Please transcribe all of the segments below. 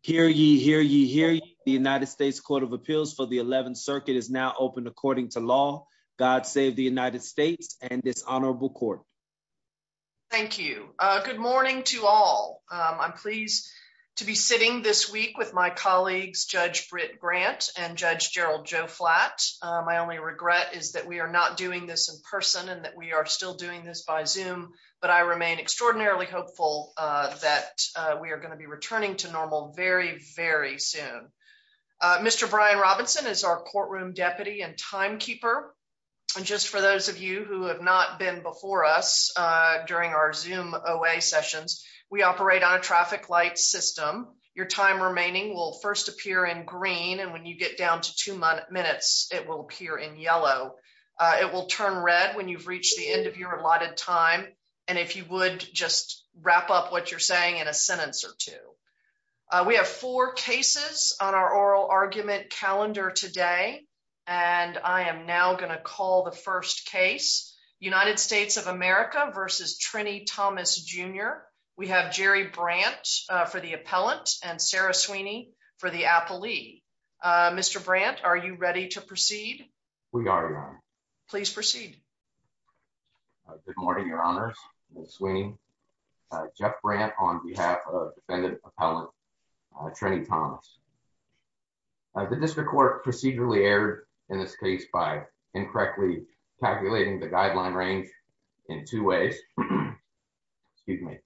Hear ye, hear ye, hear ye. The United States Court of Appeals for the 11th Circuit is now open according to law. God save the United States and this honorable court. Thank you. Good morning to all. I'm pleased to be sitting this week with my colleagues Judge Britt Grant and Judge Gerald Joe Flatt. My only regret is that we are not doing this in person and that we are still doing this by Zoom, but I remain extraordinarily hopeful that we are going to be returning to normal very, very soon. Mr Brian Robinson is our courtroom deputy and timekeeper. And just for those of you who have not been before us during our zoom away sessions, we operate on a traffic light system. Your time remaining will first appear in green and when you get down to two minutes, it will appear in yellow. It will turn red when you've reached the end of your allotted time. And if you would just wrap up what you're saying in a sentence or two. We have four cases on our oral argument calendar today, and I am now going to call the first case United States of America versus Trini Thomas, Jr. We have Jerry Brandt for the appellant and Sarah Sweeney for the good morning. Your honors Sweeney Jeff Brandt on behalf of defendant appellant Trini Thomas. The district court procedurally aired in this case by incorrectly calculating the guideline range in two ways. Excuse me.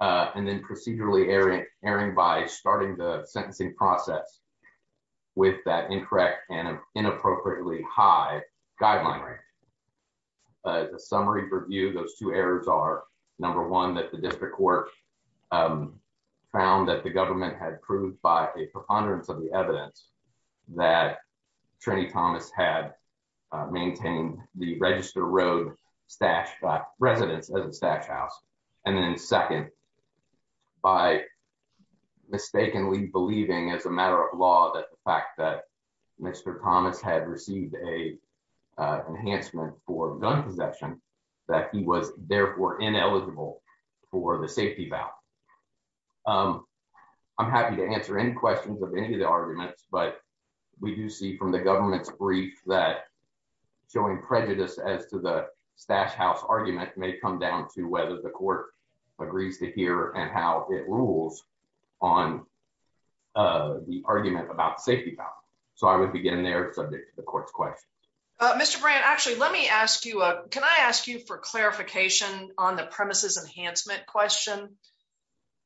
Uh, and then procedurally airing by starting the sentencing process with that incorrect and inappropriately high guideline. As a summary for you, those two errors are number one that the district court, um, found that the government had proved by a preponderance of the evidence that Trini Thomas had maintained the register road stashed residents as a stash house. And then second, by mistakenly believing as a matter of law that the fact that Mr Thomas had received a enhancement for gun possession that he was therefore ineligible for the safety about, um, I'm happy to answer any questions of any of the arguments. But we do see from the government's brief that showing prejudice as to the stash house argument may come down to whether the court agrees to hear and how it rules on, uh, the argument about safety about. So I would begin their subject to the court's question. Mr Brandt. Actually, let me ask you. Can I ask you for clarification on the premises enhancement question?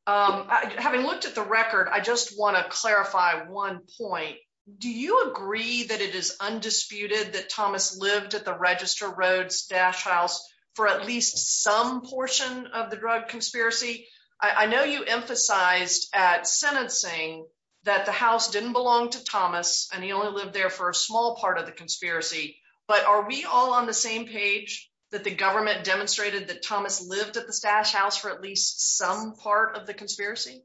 Um, having looked at the record, I just want to clarify one point. Do you agree that it is undisputed that Thomas lived at the register roads stash house for at least some portion of the drug conspiracy? I know you emphasized at sentencing that the house didn't belong to Thomas, and he only lived there for a small part of the conspiracy. But are we all on the same page that the government demonstrated that Thomas lived at the stash house for at least some part of the conspiracy?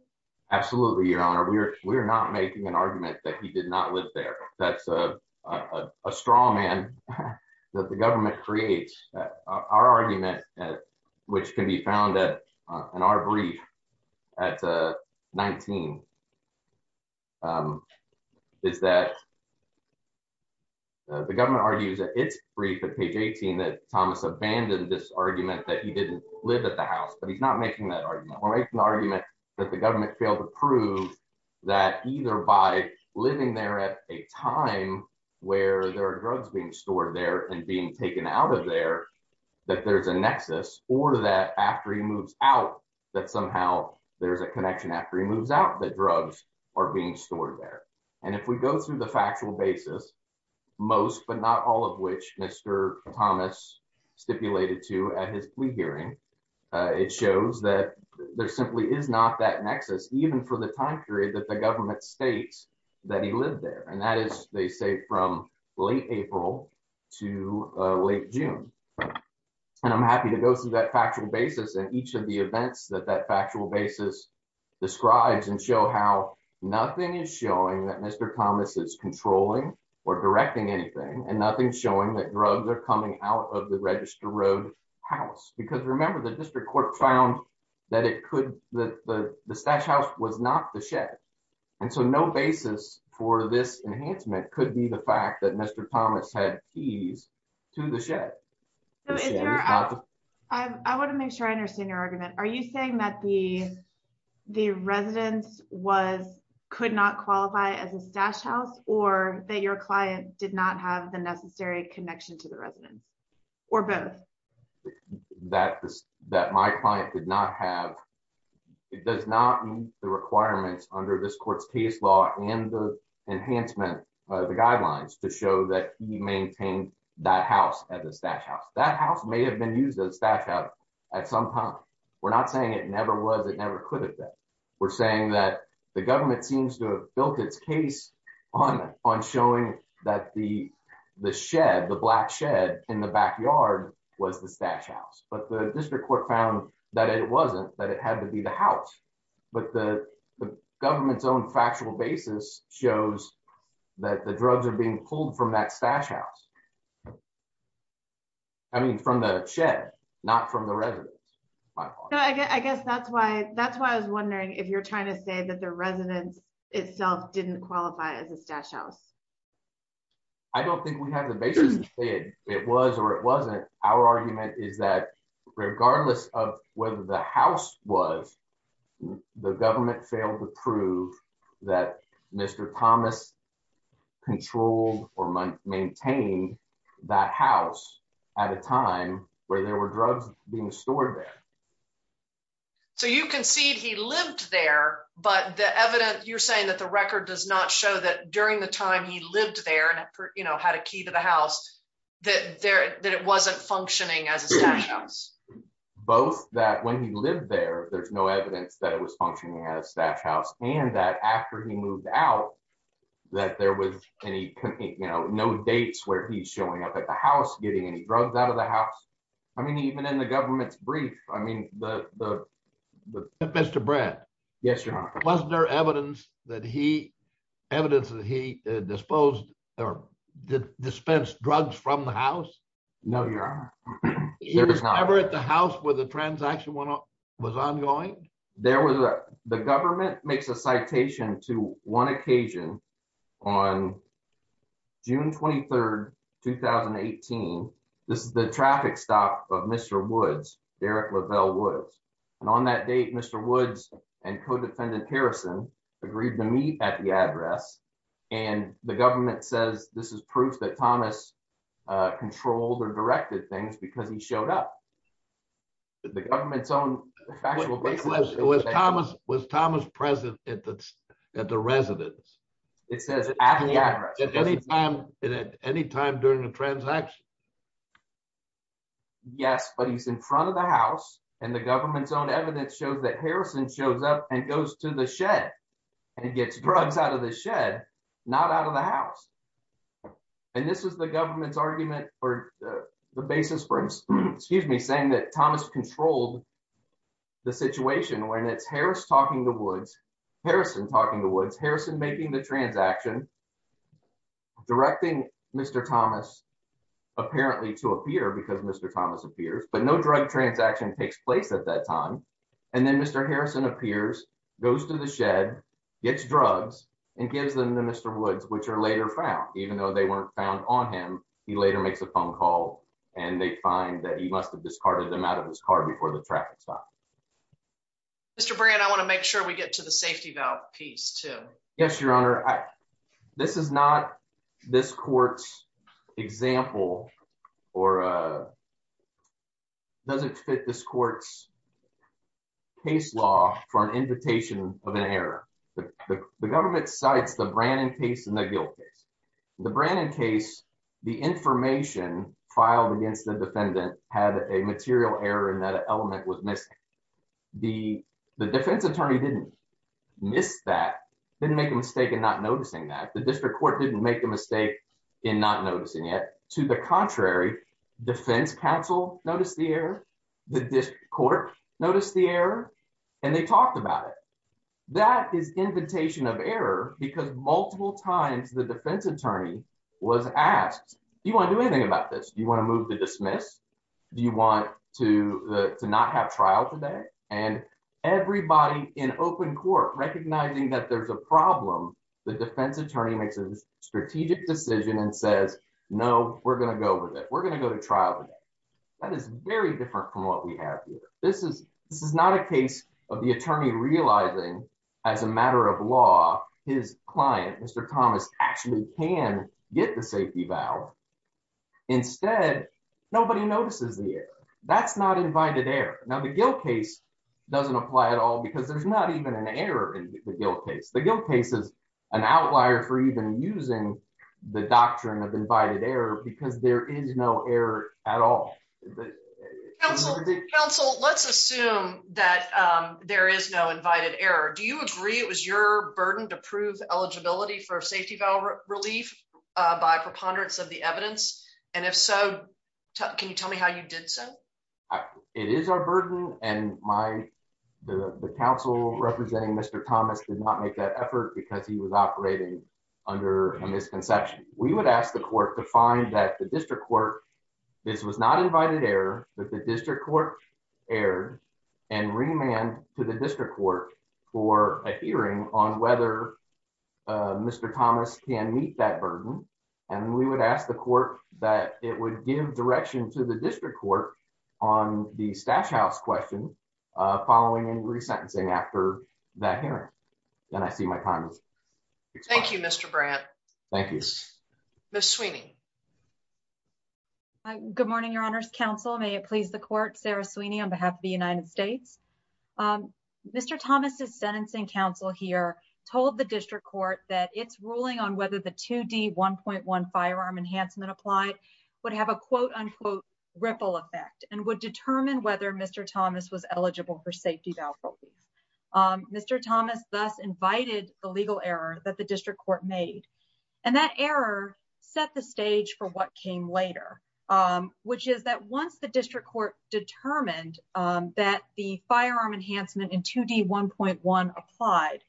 Absolutely, Your Honor. We're not making an argument that he did not live there. That's a strong man that the government creates. Our argument, which can be found that on our brief at 19. Um, is that the government argues that it's brief of page 18 that Thomas abandoned this argument that he didn't live at the house. But he's not making that argument or make an argument that the government failed to prove that either by living there at a time where there are drugs being stored there and being taken out of there that there's a nexus or that after he moves out that somehow there's a connection after he moves out. The drugs are being stored there. And if we go through the factual basis, most but not all of which Mr Thomas stipulated to at his plea hearing, it shows that there simply is not that nexus, even for the time period that the government states that he lived there. And that is, they say, from late April to late June. And I'm happy to go through that factual basis and each of the events that that factual basis describes and show how nothing is showing that Mr Thomas is controlling or directing anything and nothing showing that drugs are coming out of the Register Road house. Because remember, the district court found that it could the stash house was not the shed. And so no basis for this enhancement could be the fact that Mr. Thomas had keys to the shed. I want to make sure I understand your argument. Are you saying that the the residence was could not qualify as a stash house or that your client did not have the necessary connection to the residence or both? That that my client did not have, it does not meet the requirements under this court's case law and the enhancement of the guidelines to show that he maintained that house as a stash house. That house may have been used as a stash house at some time. We're not saying it never was, it never could have been. We're saying that the government seems to have built its case on showing that the the shed, the black shed in the backyard was the stash house. But the district court found that it wasn't, that it had to be the house. But the government's own factual basis shows that the drugs are being pulled from that stash house. I mean, from the shed, not from the residence. I guess that's why that's why I was wondering if you're trying to say that the residence itself didn't qualify as a stash house. I don't think we have the basis to say it was or it wasn't. Our argument is that regardless of whether the house was, the government failed to prove that Mr. Thomas controlled or maintained that house at a time where there were drugs being stored there. So you concede he lived there, but the evidence you're saying that the record does not show that during the time he lived there and, you know, had a key to the house, that there that it wasn't functioning as a stash house. Both that when he lived there, there's no evidence that it was functioning as that house and that after he moved out, that there was any, you know, no dates where he's showing up at the house getting any drugs out of the house. I mean, the Mr. Brett. Yes, your honor. Wasn't there evidence that he evidence that he disposed or dispensed drugs from the house? No, your honor. He was never at the house where the transaction was ongoing. There was the government makes a citation to one occasion on June 23rd, 2018. This is the And on that date, Mr. Woods and co-defendant Harrison agreed to meet at the address. And the government says this is proof that Thomas controlled or directed things because he showed up. The government's own was Thomas was Thomas president at the at the residence. It says at any time at any time during the transaction. Yes, but he's in front of the house and the government's own evidence shows that Harrison shows up and goes to the shed and gets drugs out of the shed, not out of the house. And this is the government's argument for the basis for excuse me, saying that Thomas controlled the situation when it's Harris talking to Woods Harrison talking to Woods Harrison making the action directing Mr. Thomas apparently to appear because Mr. Thomas appears, but no drug transaction takes place at that time. And then Mr. Harrison appears, goes to the shed, gets drugs and gives them to Mr. Woods, which are later found, even though they weren't found on him. He later makes a phone call and they find that he must have discarded them out of his car before the traffic stop. Mr. Brandt, I want to make sure we get to the safety valve piece to. Yes, Your Honor. This is not this court's example or doesn't fit this court's case law for an invitation of an error. The government cites the Brandon case and the guilt case. The Brandon case, the information filed against the defendant had a material error in that element was missing. The defense attorney didn't miss that, didn't make a mistake in not noticing that the district court didn't make a mistake in not noticing it. To the contrary, defense counsel noticed the error. The court noticed the air and they talked about it. That is invitation of error because multiple times the defense attorney was asked, Do you want to do anything about this? Do you want to move to dismiss? Do you want to not have trial today? And everybody in open court recognizing that there's a problem, the defense attorney makes a strategic decision and says, No, we're going to go with it. We're going to go to trial. That is very different from what we have here. This is this is not a case of the attorney realizing as a matter of law, his client, Mr. Thomas, actually can get the safety valve. Instead, nobody notices the air. That's not invited air. Now, the guilt case doesn't apply at all because there's not even an error in the guilt case. The guilt case is an outlier for even using the doctrine of invited air because there is no air at all. Council, let's assume that there is no invited air. Do you agree it was your burden to prove eligibility for safety valve relief by preponderance of the evidence? And if so, can you tell me how you did so? It is our burden and my the council representing Mr Thomas did not make that effort because he was operating under a misconception. We would ask the court to find that the district court. This was not invited air that the district court air and remand to the district court for a hearing on whether Mr Thomas can meet that burden. And we would ask the court that it would give direction to the district court on the stash house question following and resentencing after that hearing. Then I see my time. Thank you, Mr Brandt. Thank you, Miss Sweeney. Good morning, Your Honor's Council. May it please the court Sarah Sweeney on Mr Thomas is sentencing. Council here told the district court that it's ruling on whether the 2 d 1.1 firearm enhancement applied would have a quote unquote ripple effect and would determine whether Mr Thomas was eligible for safety valve. Mr Thomas thus invited the legal error that the district court made, and that error set the stage for what came later, which is that once the district court determined, um, that the firearm enhancement in 2 d 1.1 applied,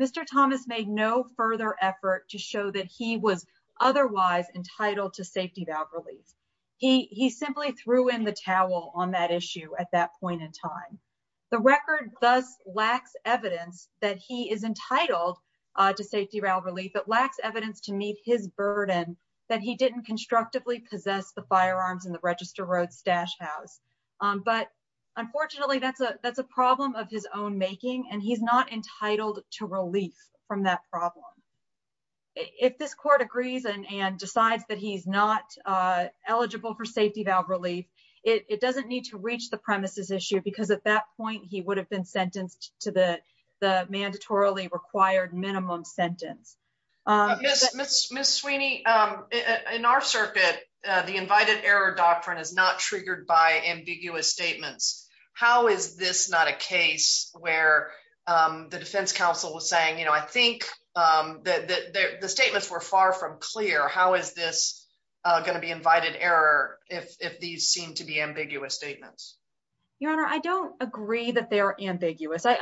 Mr Thomas made no further effort to show that he was otherwise entitled to safety valve relief. He simply threw in the towel on that issue. At that point in time, the record thus lacks evidence that he is entitled to safety valve relief that lacks evidence to meet his burden that he didn't constructively possess the firearms in Register Road stash house. But unfortunately, that's a that's a problem of his own making, and he's not entitled to relief from that problem. If this court agrees and decides that he's not eligible for safety valve relief, it doesn't need to reach the premises issue because at that point he would have been sentenced to the mandatorily required minimum sentence. Uh, yes, Miss Miss Sweeney. Um, in our circuit, the invited error doctrine is not triggered by ambiguous statements. How is this not a case where, um, the defense counsel was saying, you know, I think, um, that the statements were far from clear. How is this gonna be invited error? If these seem to be ambiguous statements, Your Honor, I don't agree that they're ambiguous. I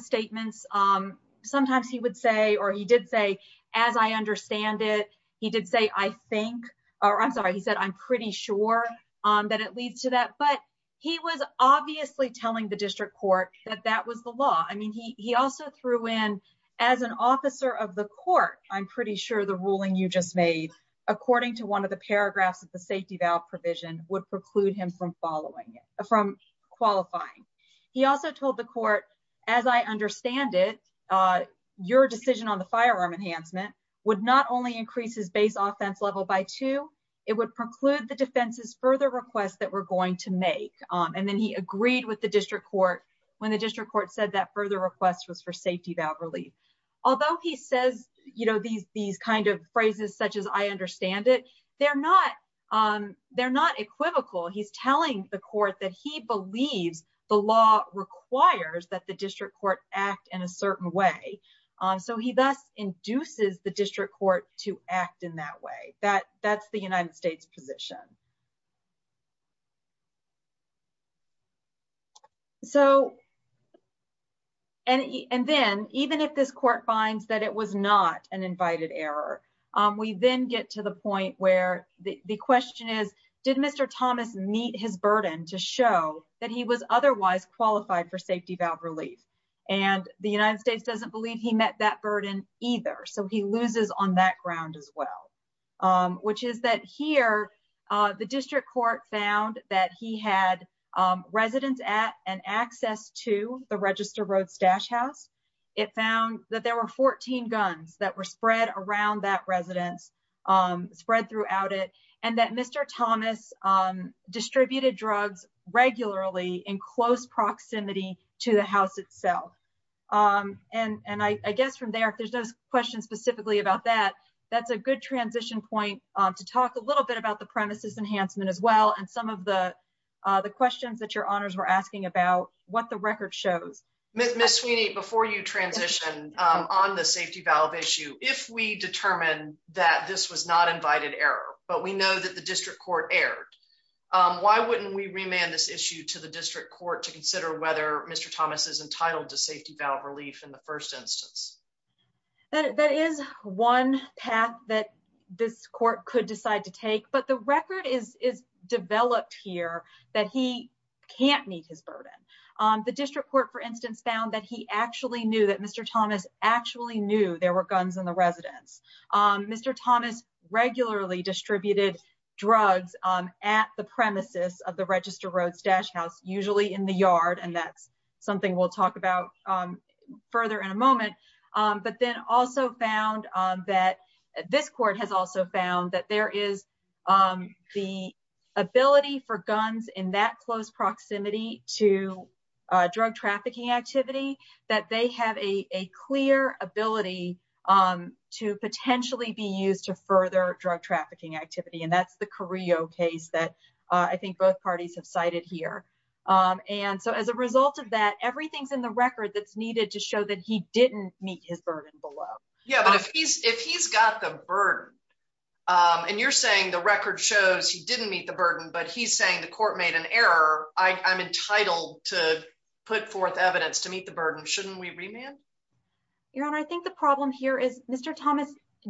statements. Um, sometimes he would say or he did say, as I understand it, he did say, I think I'm sorry. He said, I'm pretty sure that it leads to that. But he was obviously telling the district court that that was the law. I mean, he also threw in as an officer of the court. I'm pretty sure the ruling you just made, according to one of the paragraphs of the safety valve provision, would preclude him from following from qualifying. He also told the court, as I understand it, uh, your decision on the firearm enhancement would not only increases base offense level by two, it would preclude the defense's further requests that we're going to make. And then he agreed with the district court when the district court said that further request was for safety valve relief. Although he says, you know, these these kind of phrases, such as I understand it, they're not, um, they're not equivocal. He's telling the court that he believes the law requires that the district court act in a certain way. Um, so he thus induces the district court to act in that way that that's the United States position. So and then even if this court finds that it was not an invited error, we then get to the point where the question is, did Mr thomas meet his burden to show that he was otherwise qualified for safety valve relief? And the United States doesn't believe he met that burden either. So he loses on that ground as well. Um, which is that here, uh, the district court found that he had, um, residents at an access to the register road stash house. It found that there were 14 guns that were spread around that residence, um, spread throughout it and that Mr thomas, um, distributed drugs regularly in close proximity to the house itself. Um, and and I guess from there, if there's those questions specifically about that, that's a good transition point to talk a little bit about the premises enhancement as well. And some of the, uh, the questions that your honors were asking about what the transition on the safety valve issue. If we determine that this was not invited error, but we know that the district court aired, um, why wouldn't we remand this issue to the district court to consider whether Mr thomas is entitled to safety valve relief in the first instance? That is one path that this court could decide to take. But the record is developed here that he can't meet his burden. The district court, for instance, found that he actually knew that Mr thomas actually knew there were guns in the residence. Um, Mr thomas regularly distributed drugs, um, at the premises of the register road stash house, usually in the yard. And that's something we'll talk about, um, further in a moment. Um, but then also found that this court has also found that there is, um, the ability for guns in that close proximity to drug trafficking activity, that they have a clear ability, um, to potentially be used to further drug trafficking activity. And that's the career case that I think both parties have cited here. Um, and so as a result of that, everything's in the record that's needed to show that he didn't meet his burden. Um, and you're saying the record shows he didn't meet the burden, but he's saying the court made an error. I'm entitled to put forth evidence to meet the burden. Shouldn't we remand your honor? I think the problem here is Mr thomas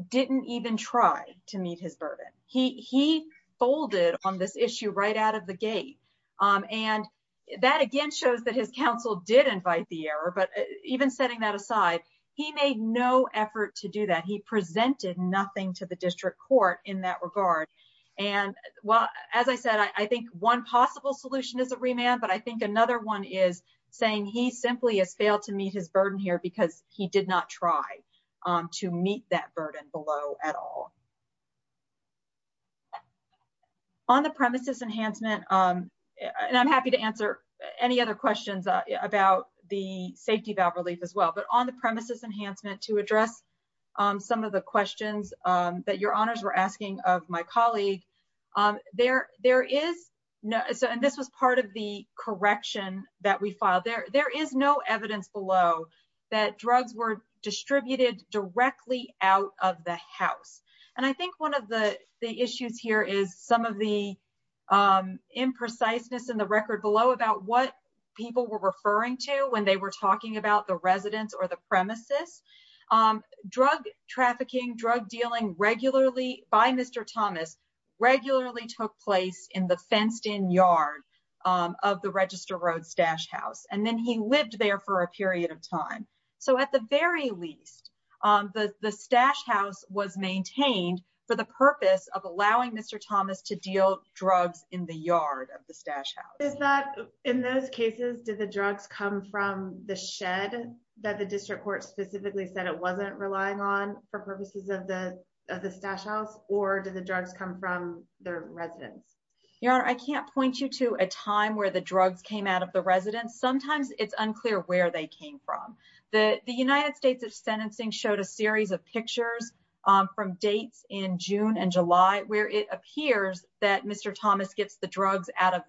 didn't even try to meet his burden. He he folded on this issue right out of the gate. Um, and that again shows that his counsel did invite the error. But even setting that aside, he made no effort to do that. He presented nothing to the district court in that regard. And as I said, I think one possible solution is a remand. But I think another one is saying he simply has failed to meet his burden here because he did not try to meet that burden below at all on the premises enhancement. Um, and I'm happy to answer any other questions about the safety valve relief as well. But on the premises enhancement to address um some of the questions um that your honors were asking of my colleague. Um there there is no. So and this was part of the correction that we filed there. There is no evidence below that drugs were distributed directly out of the house. And I think one of the issues here is some of the um impreciseness in the record below about what people were referring to when they were talking about the residents or the premises um drug trafficking drug dealing regularly by Mr thomas regularly took place in the fenced in yard um of the register road stash house. And then he lived there for a period of time. So at the very least um the the stash house was maintained for the purpose of allowing Mr thomas to deal drugs in the yard of the stash is that in those cases did the drugs come from the shed that the district court specifically said it wasn't relying on for purposes of the stash house or did the drugs come from the residents? Your honor, I can't point you to a time where the drugs came out of the residents. Sometimes it's unclear where they came from. The United States of sentencing showed a series of pictures um from dates in june and july where it appears that Mr thomas gets the drugs out of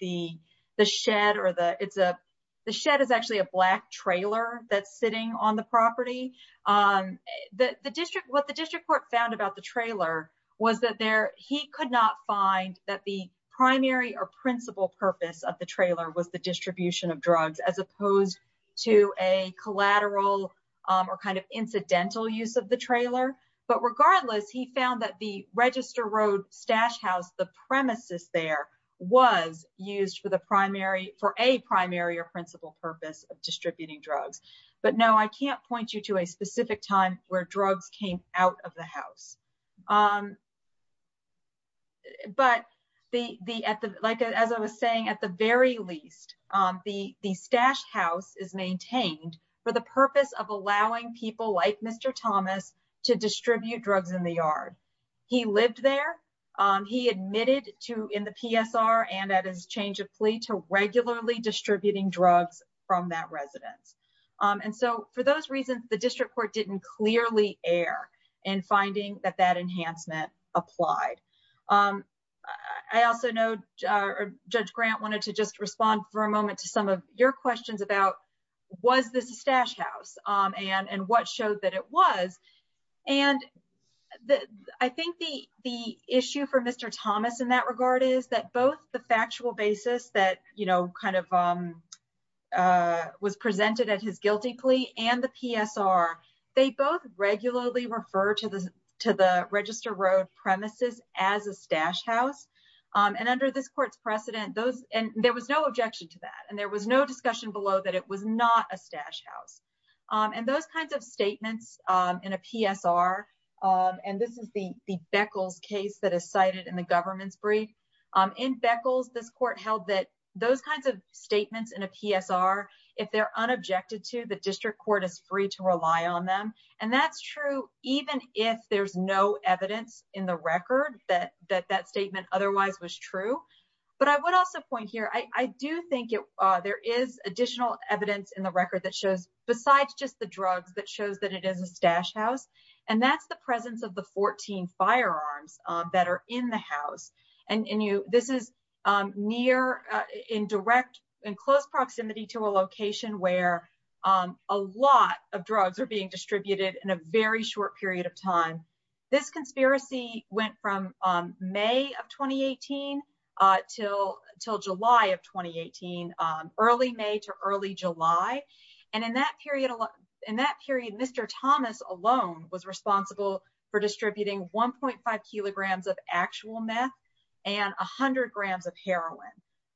the the shed or the it's a the shed is actually a black trailer that's sitting on the property. Um the district what the district court found about the trailer was that there he could not find that the primary or principal purpose of the trailer was the distribution of drugs as opposed to a collateral um or kind of incidental use of the trailer. But regardless he found that the register road stash house, the premises there was used for the primary for a primary or principal purpose of distributing drugs. But no, I can't point you to a specific time where drugs came out of the house. Um but the like as I was saying at the very least um the the stash house is maintained for the purpose of allowing people like Mr thomas to distribute drugs in the yard. He lived there. Um he admitted to in the PSR and at his change of plea to regularly distributing drugs from that residence. Um and so for those reasons the district court didn't clearly air and finding that that enhancement applied. Um I also know uh judge grant wanted to just respond for a moment to some of your questions about was this stash house um and and what showed that it was and I think the the issue for Mr thomas in that regard is that both the factual basis that you know kind of um uh was presented at his guilty plea and the PSR they both regularly refer to the to the register road premises as a stash house. Um and under this court's precedent those and there was no objection to that and there was no stash house. Um and those kinds of statements um in a PSR um and this is the the beckles case that is cited in the government's brief um in beckles. This court held that those kinds of statements in a PSR if they're unobjected to the district court is free to rely on them and that's true even if there's no evidence in the record that that that statement otherwise was true. But I would also point here, I do think there is additional evidence in the record that shows besides just the drugs that shows that it is a stash house and that's the presence of the 14 firearms that are in the house and you this is um near in direct and close proximity to a location where um a lot of drugs are being distributed in a very short period of time. This conspiracy went from um May of 2018 uh till till july of 2018 um early may to early july. And in that period in that period Mr thomas alone was responsible for distributing 1.5 kilograms of actual meth and 100 grams of heroin.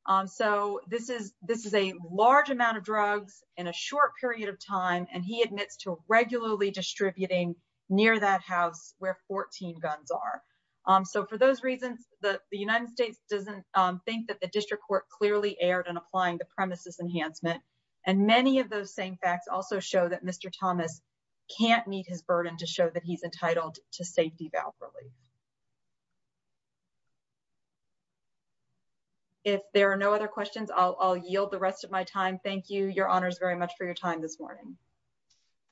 Um So this is this is a large amount of drugs in a short period of time and he admits to regularly distributing near that house where 14 guns are. Um So for those reasons the United States doesn't um think that the district court clearly aired and applying the premises enhancement and many of those same facts also show that Mr thomas can't meet his burden to show that he's entitled to safety valve relief. If there are no other questions, I'll I'll yield the rest of my time. Thank you. Your honors very much for your time this morning.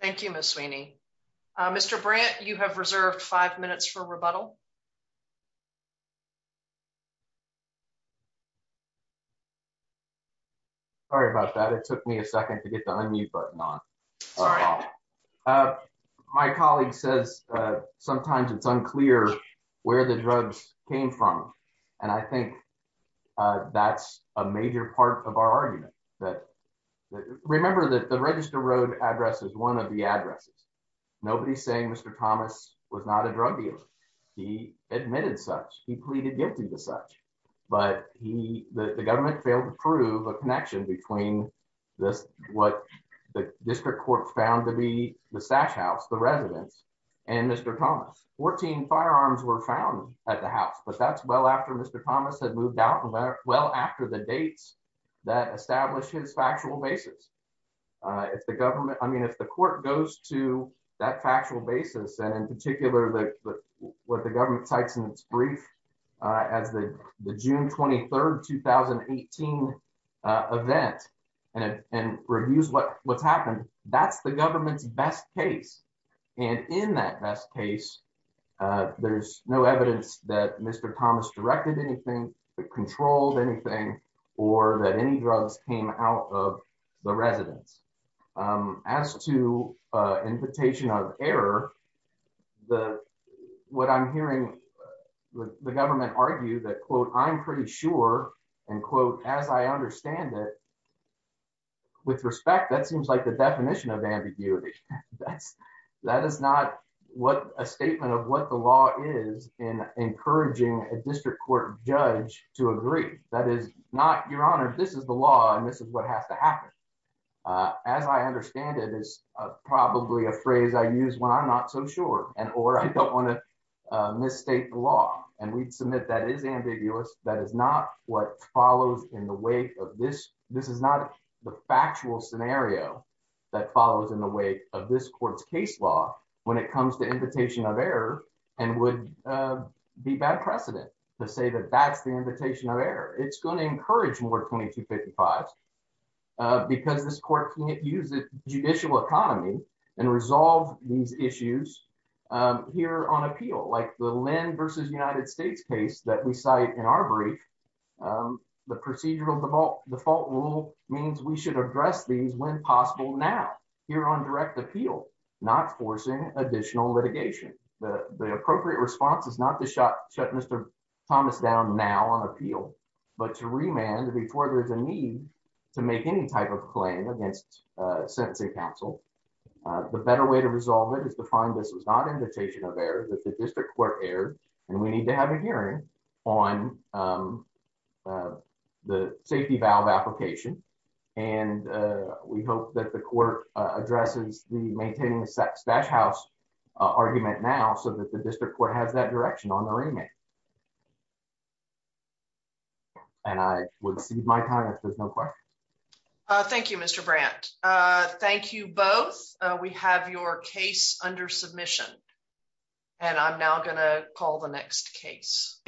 Thank you. Miss Sweeney. Mr. Brandt, you have reserved five minutes for rebuttal. Yeah. Sorry about that. It took me a second to get the unmute button on. Uh my colleague says uh sometimes it's unclear where the drugs came from. And I think uh that's a major part of our argument that remember that the register road address is one of the addresses. Nobody's saying Mr thomas was not a drug dealer. He admitted such he pleaded guilty to such but he the government failed to prove a connection between this what the district court found to be the sash house, the residents and Mr thomas 14 firearms were found at the house. But that's well after Mr thomas had moved out well after the dates that established his factual basis. Uh if the government, I particular that what the government types in its brief as the june 23rd 2018 event and and reviews what what's happened, that's the government's best case. And in that best case uh there's no evidence that Mr thomas directed anything that controlled anything or that any drugs came out of the the what I'm hearing the government argue that quote I'm pretty sure and quote as I understand it with respect that seems like the definition of ambiguity. That's that is not what a statement of what the law is in encouraging a district court judge to agree. That is not your honor. This is the law and this is what has to happen. Uh as I understand it is probably a phrase I use when I'm not so sure and or I don't want to uh mistake the law and we'd submit that is ambiguous. That is not what follows in the wake of this. This is not the factual scenario that follows in the wake of this court's case law when it comes to invitation of error and would uh be bad precedent to say that that's the invitation of error. It's going to encourage more 22 55 because this court can't use the judicial economy and resolve these issues um here on appeal like the land versus United States case that we cite in our brief um the procedural default rule means we should address these when possible now here on direct appeal not forcing additional litigation. The appropriate response is not to shut Mr thomas down now on appeal but to remand before there's a need to make any type of claim against uh sentencing counsel. Uh the better way to resolve it is to find this was not invitation of error that the district court erred and we need to have a hearing on um uh the safety valve application and uh we hope that the court addresses the maintaining sex dash house argument now so that the district court has that direction on the remand and I would see my time if there's no questions. Thank you Mr Brandt. Uh thank you both. We have your case under submission and I'm now going to call the next case.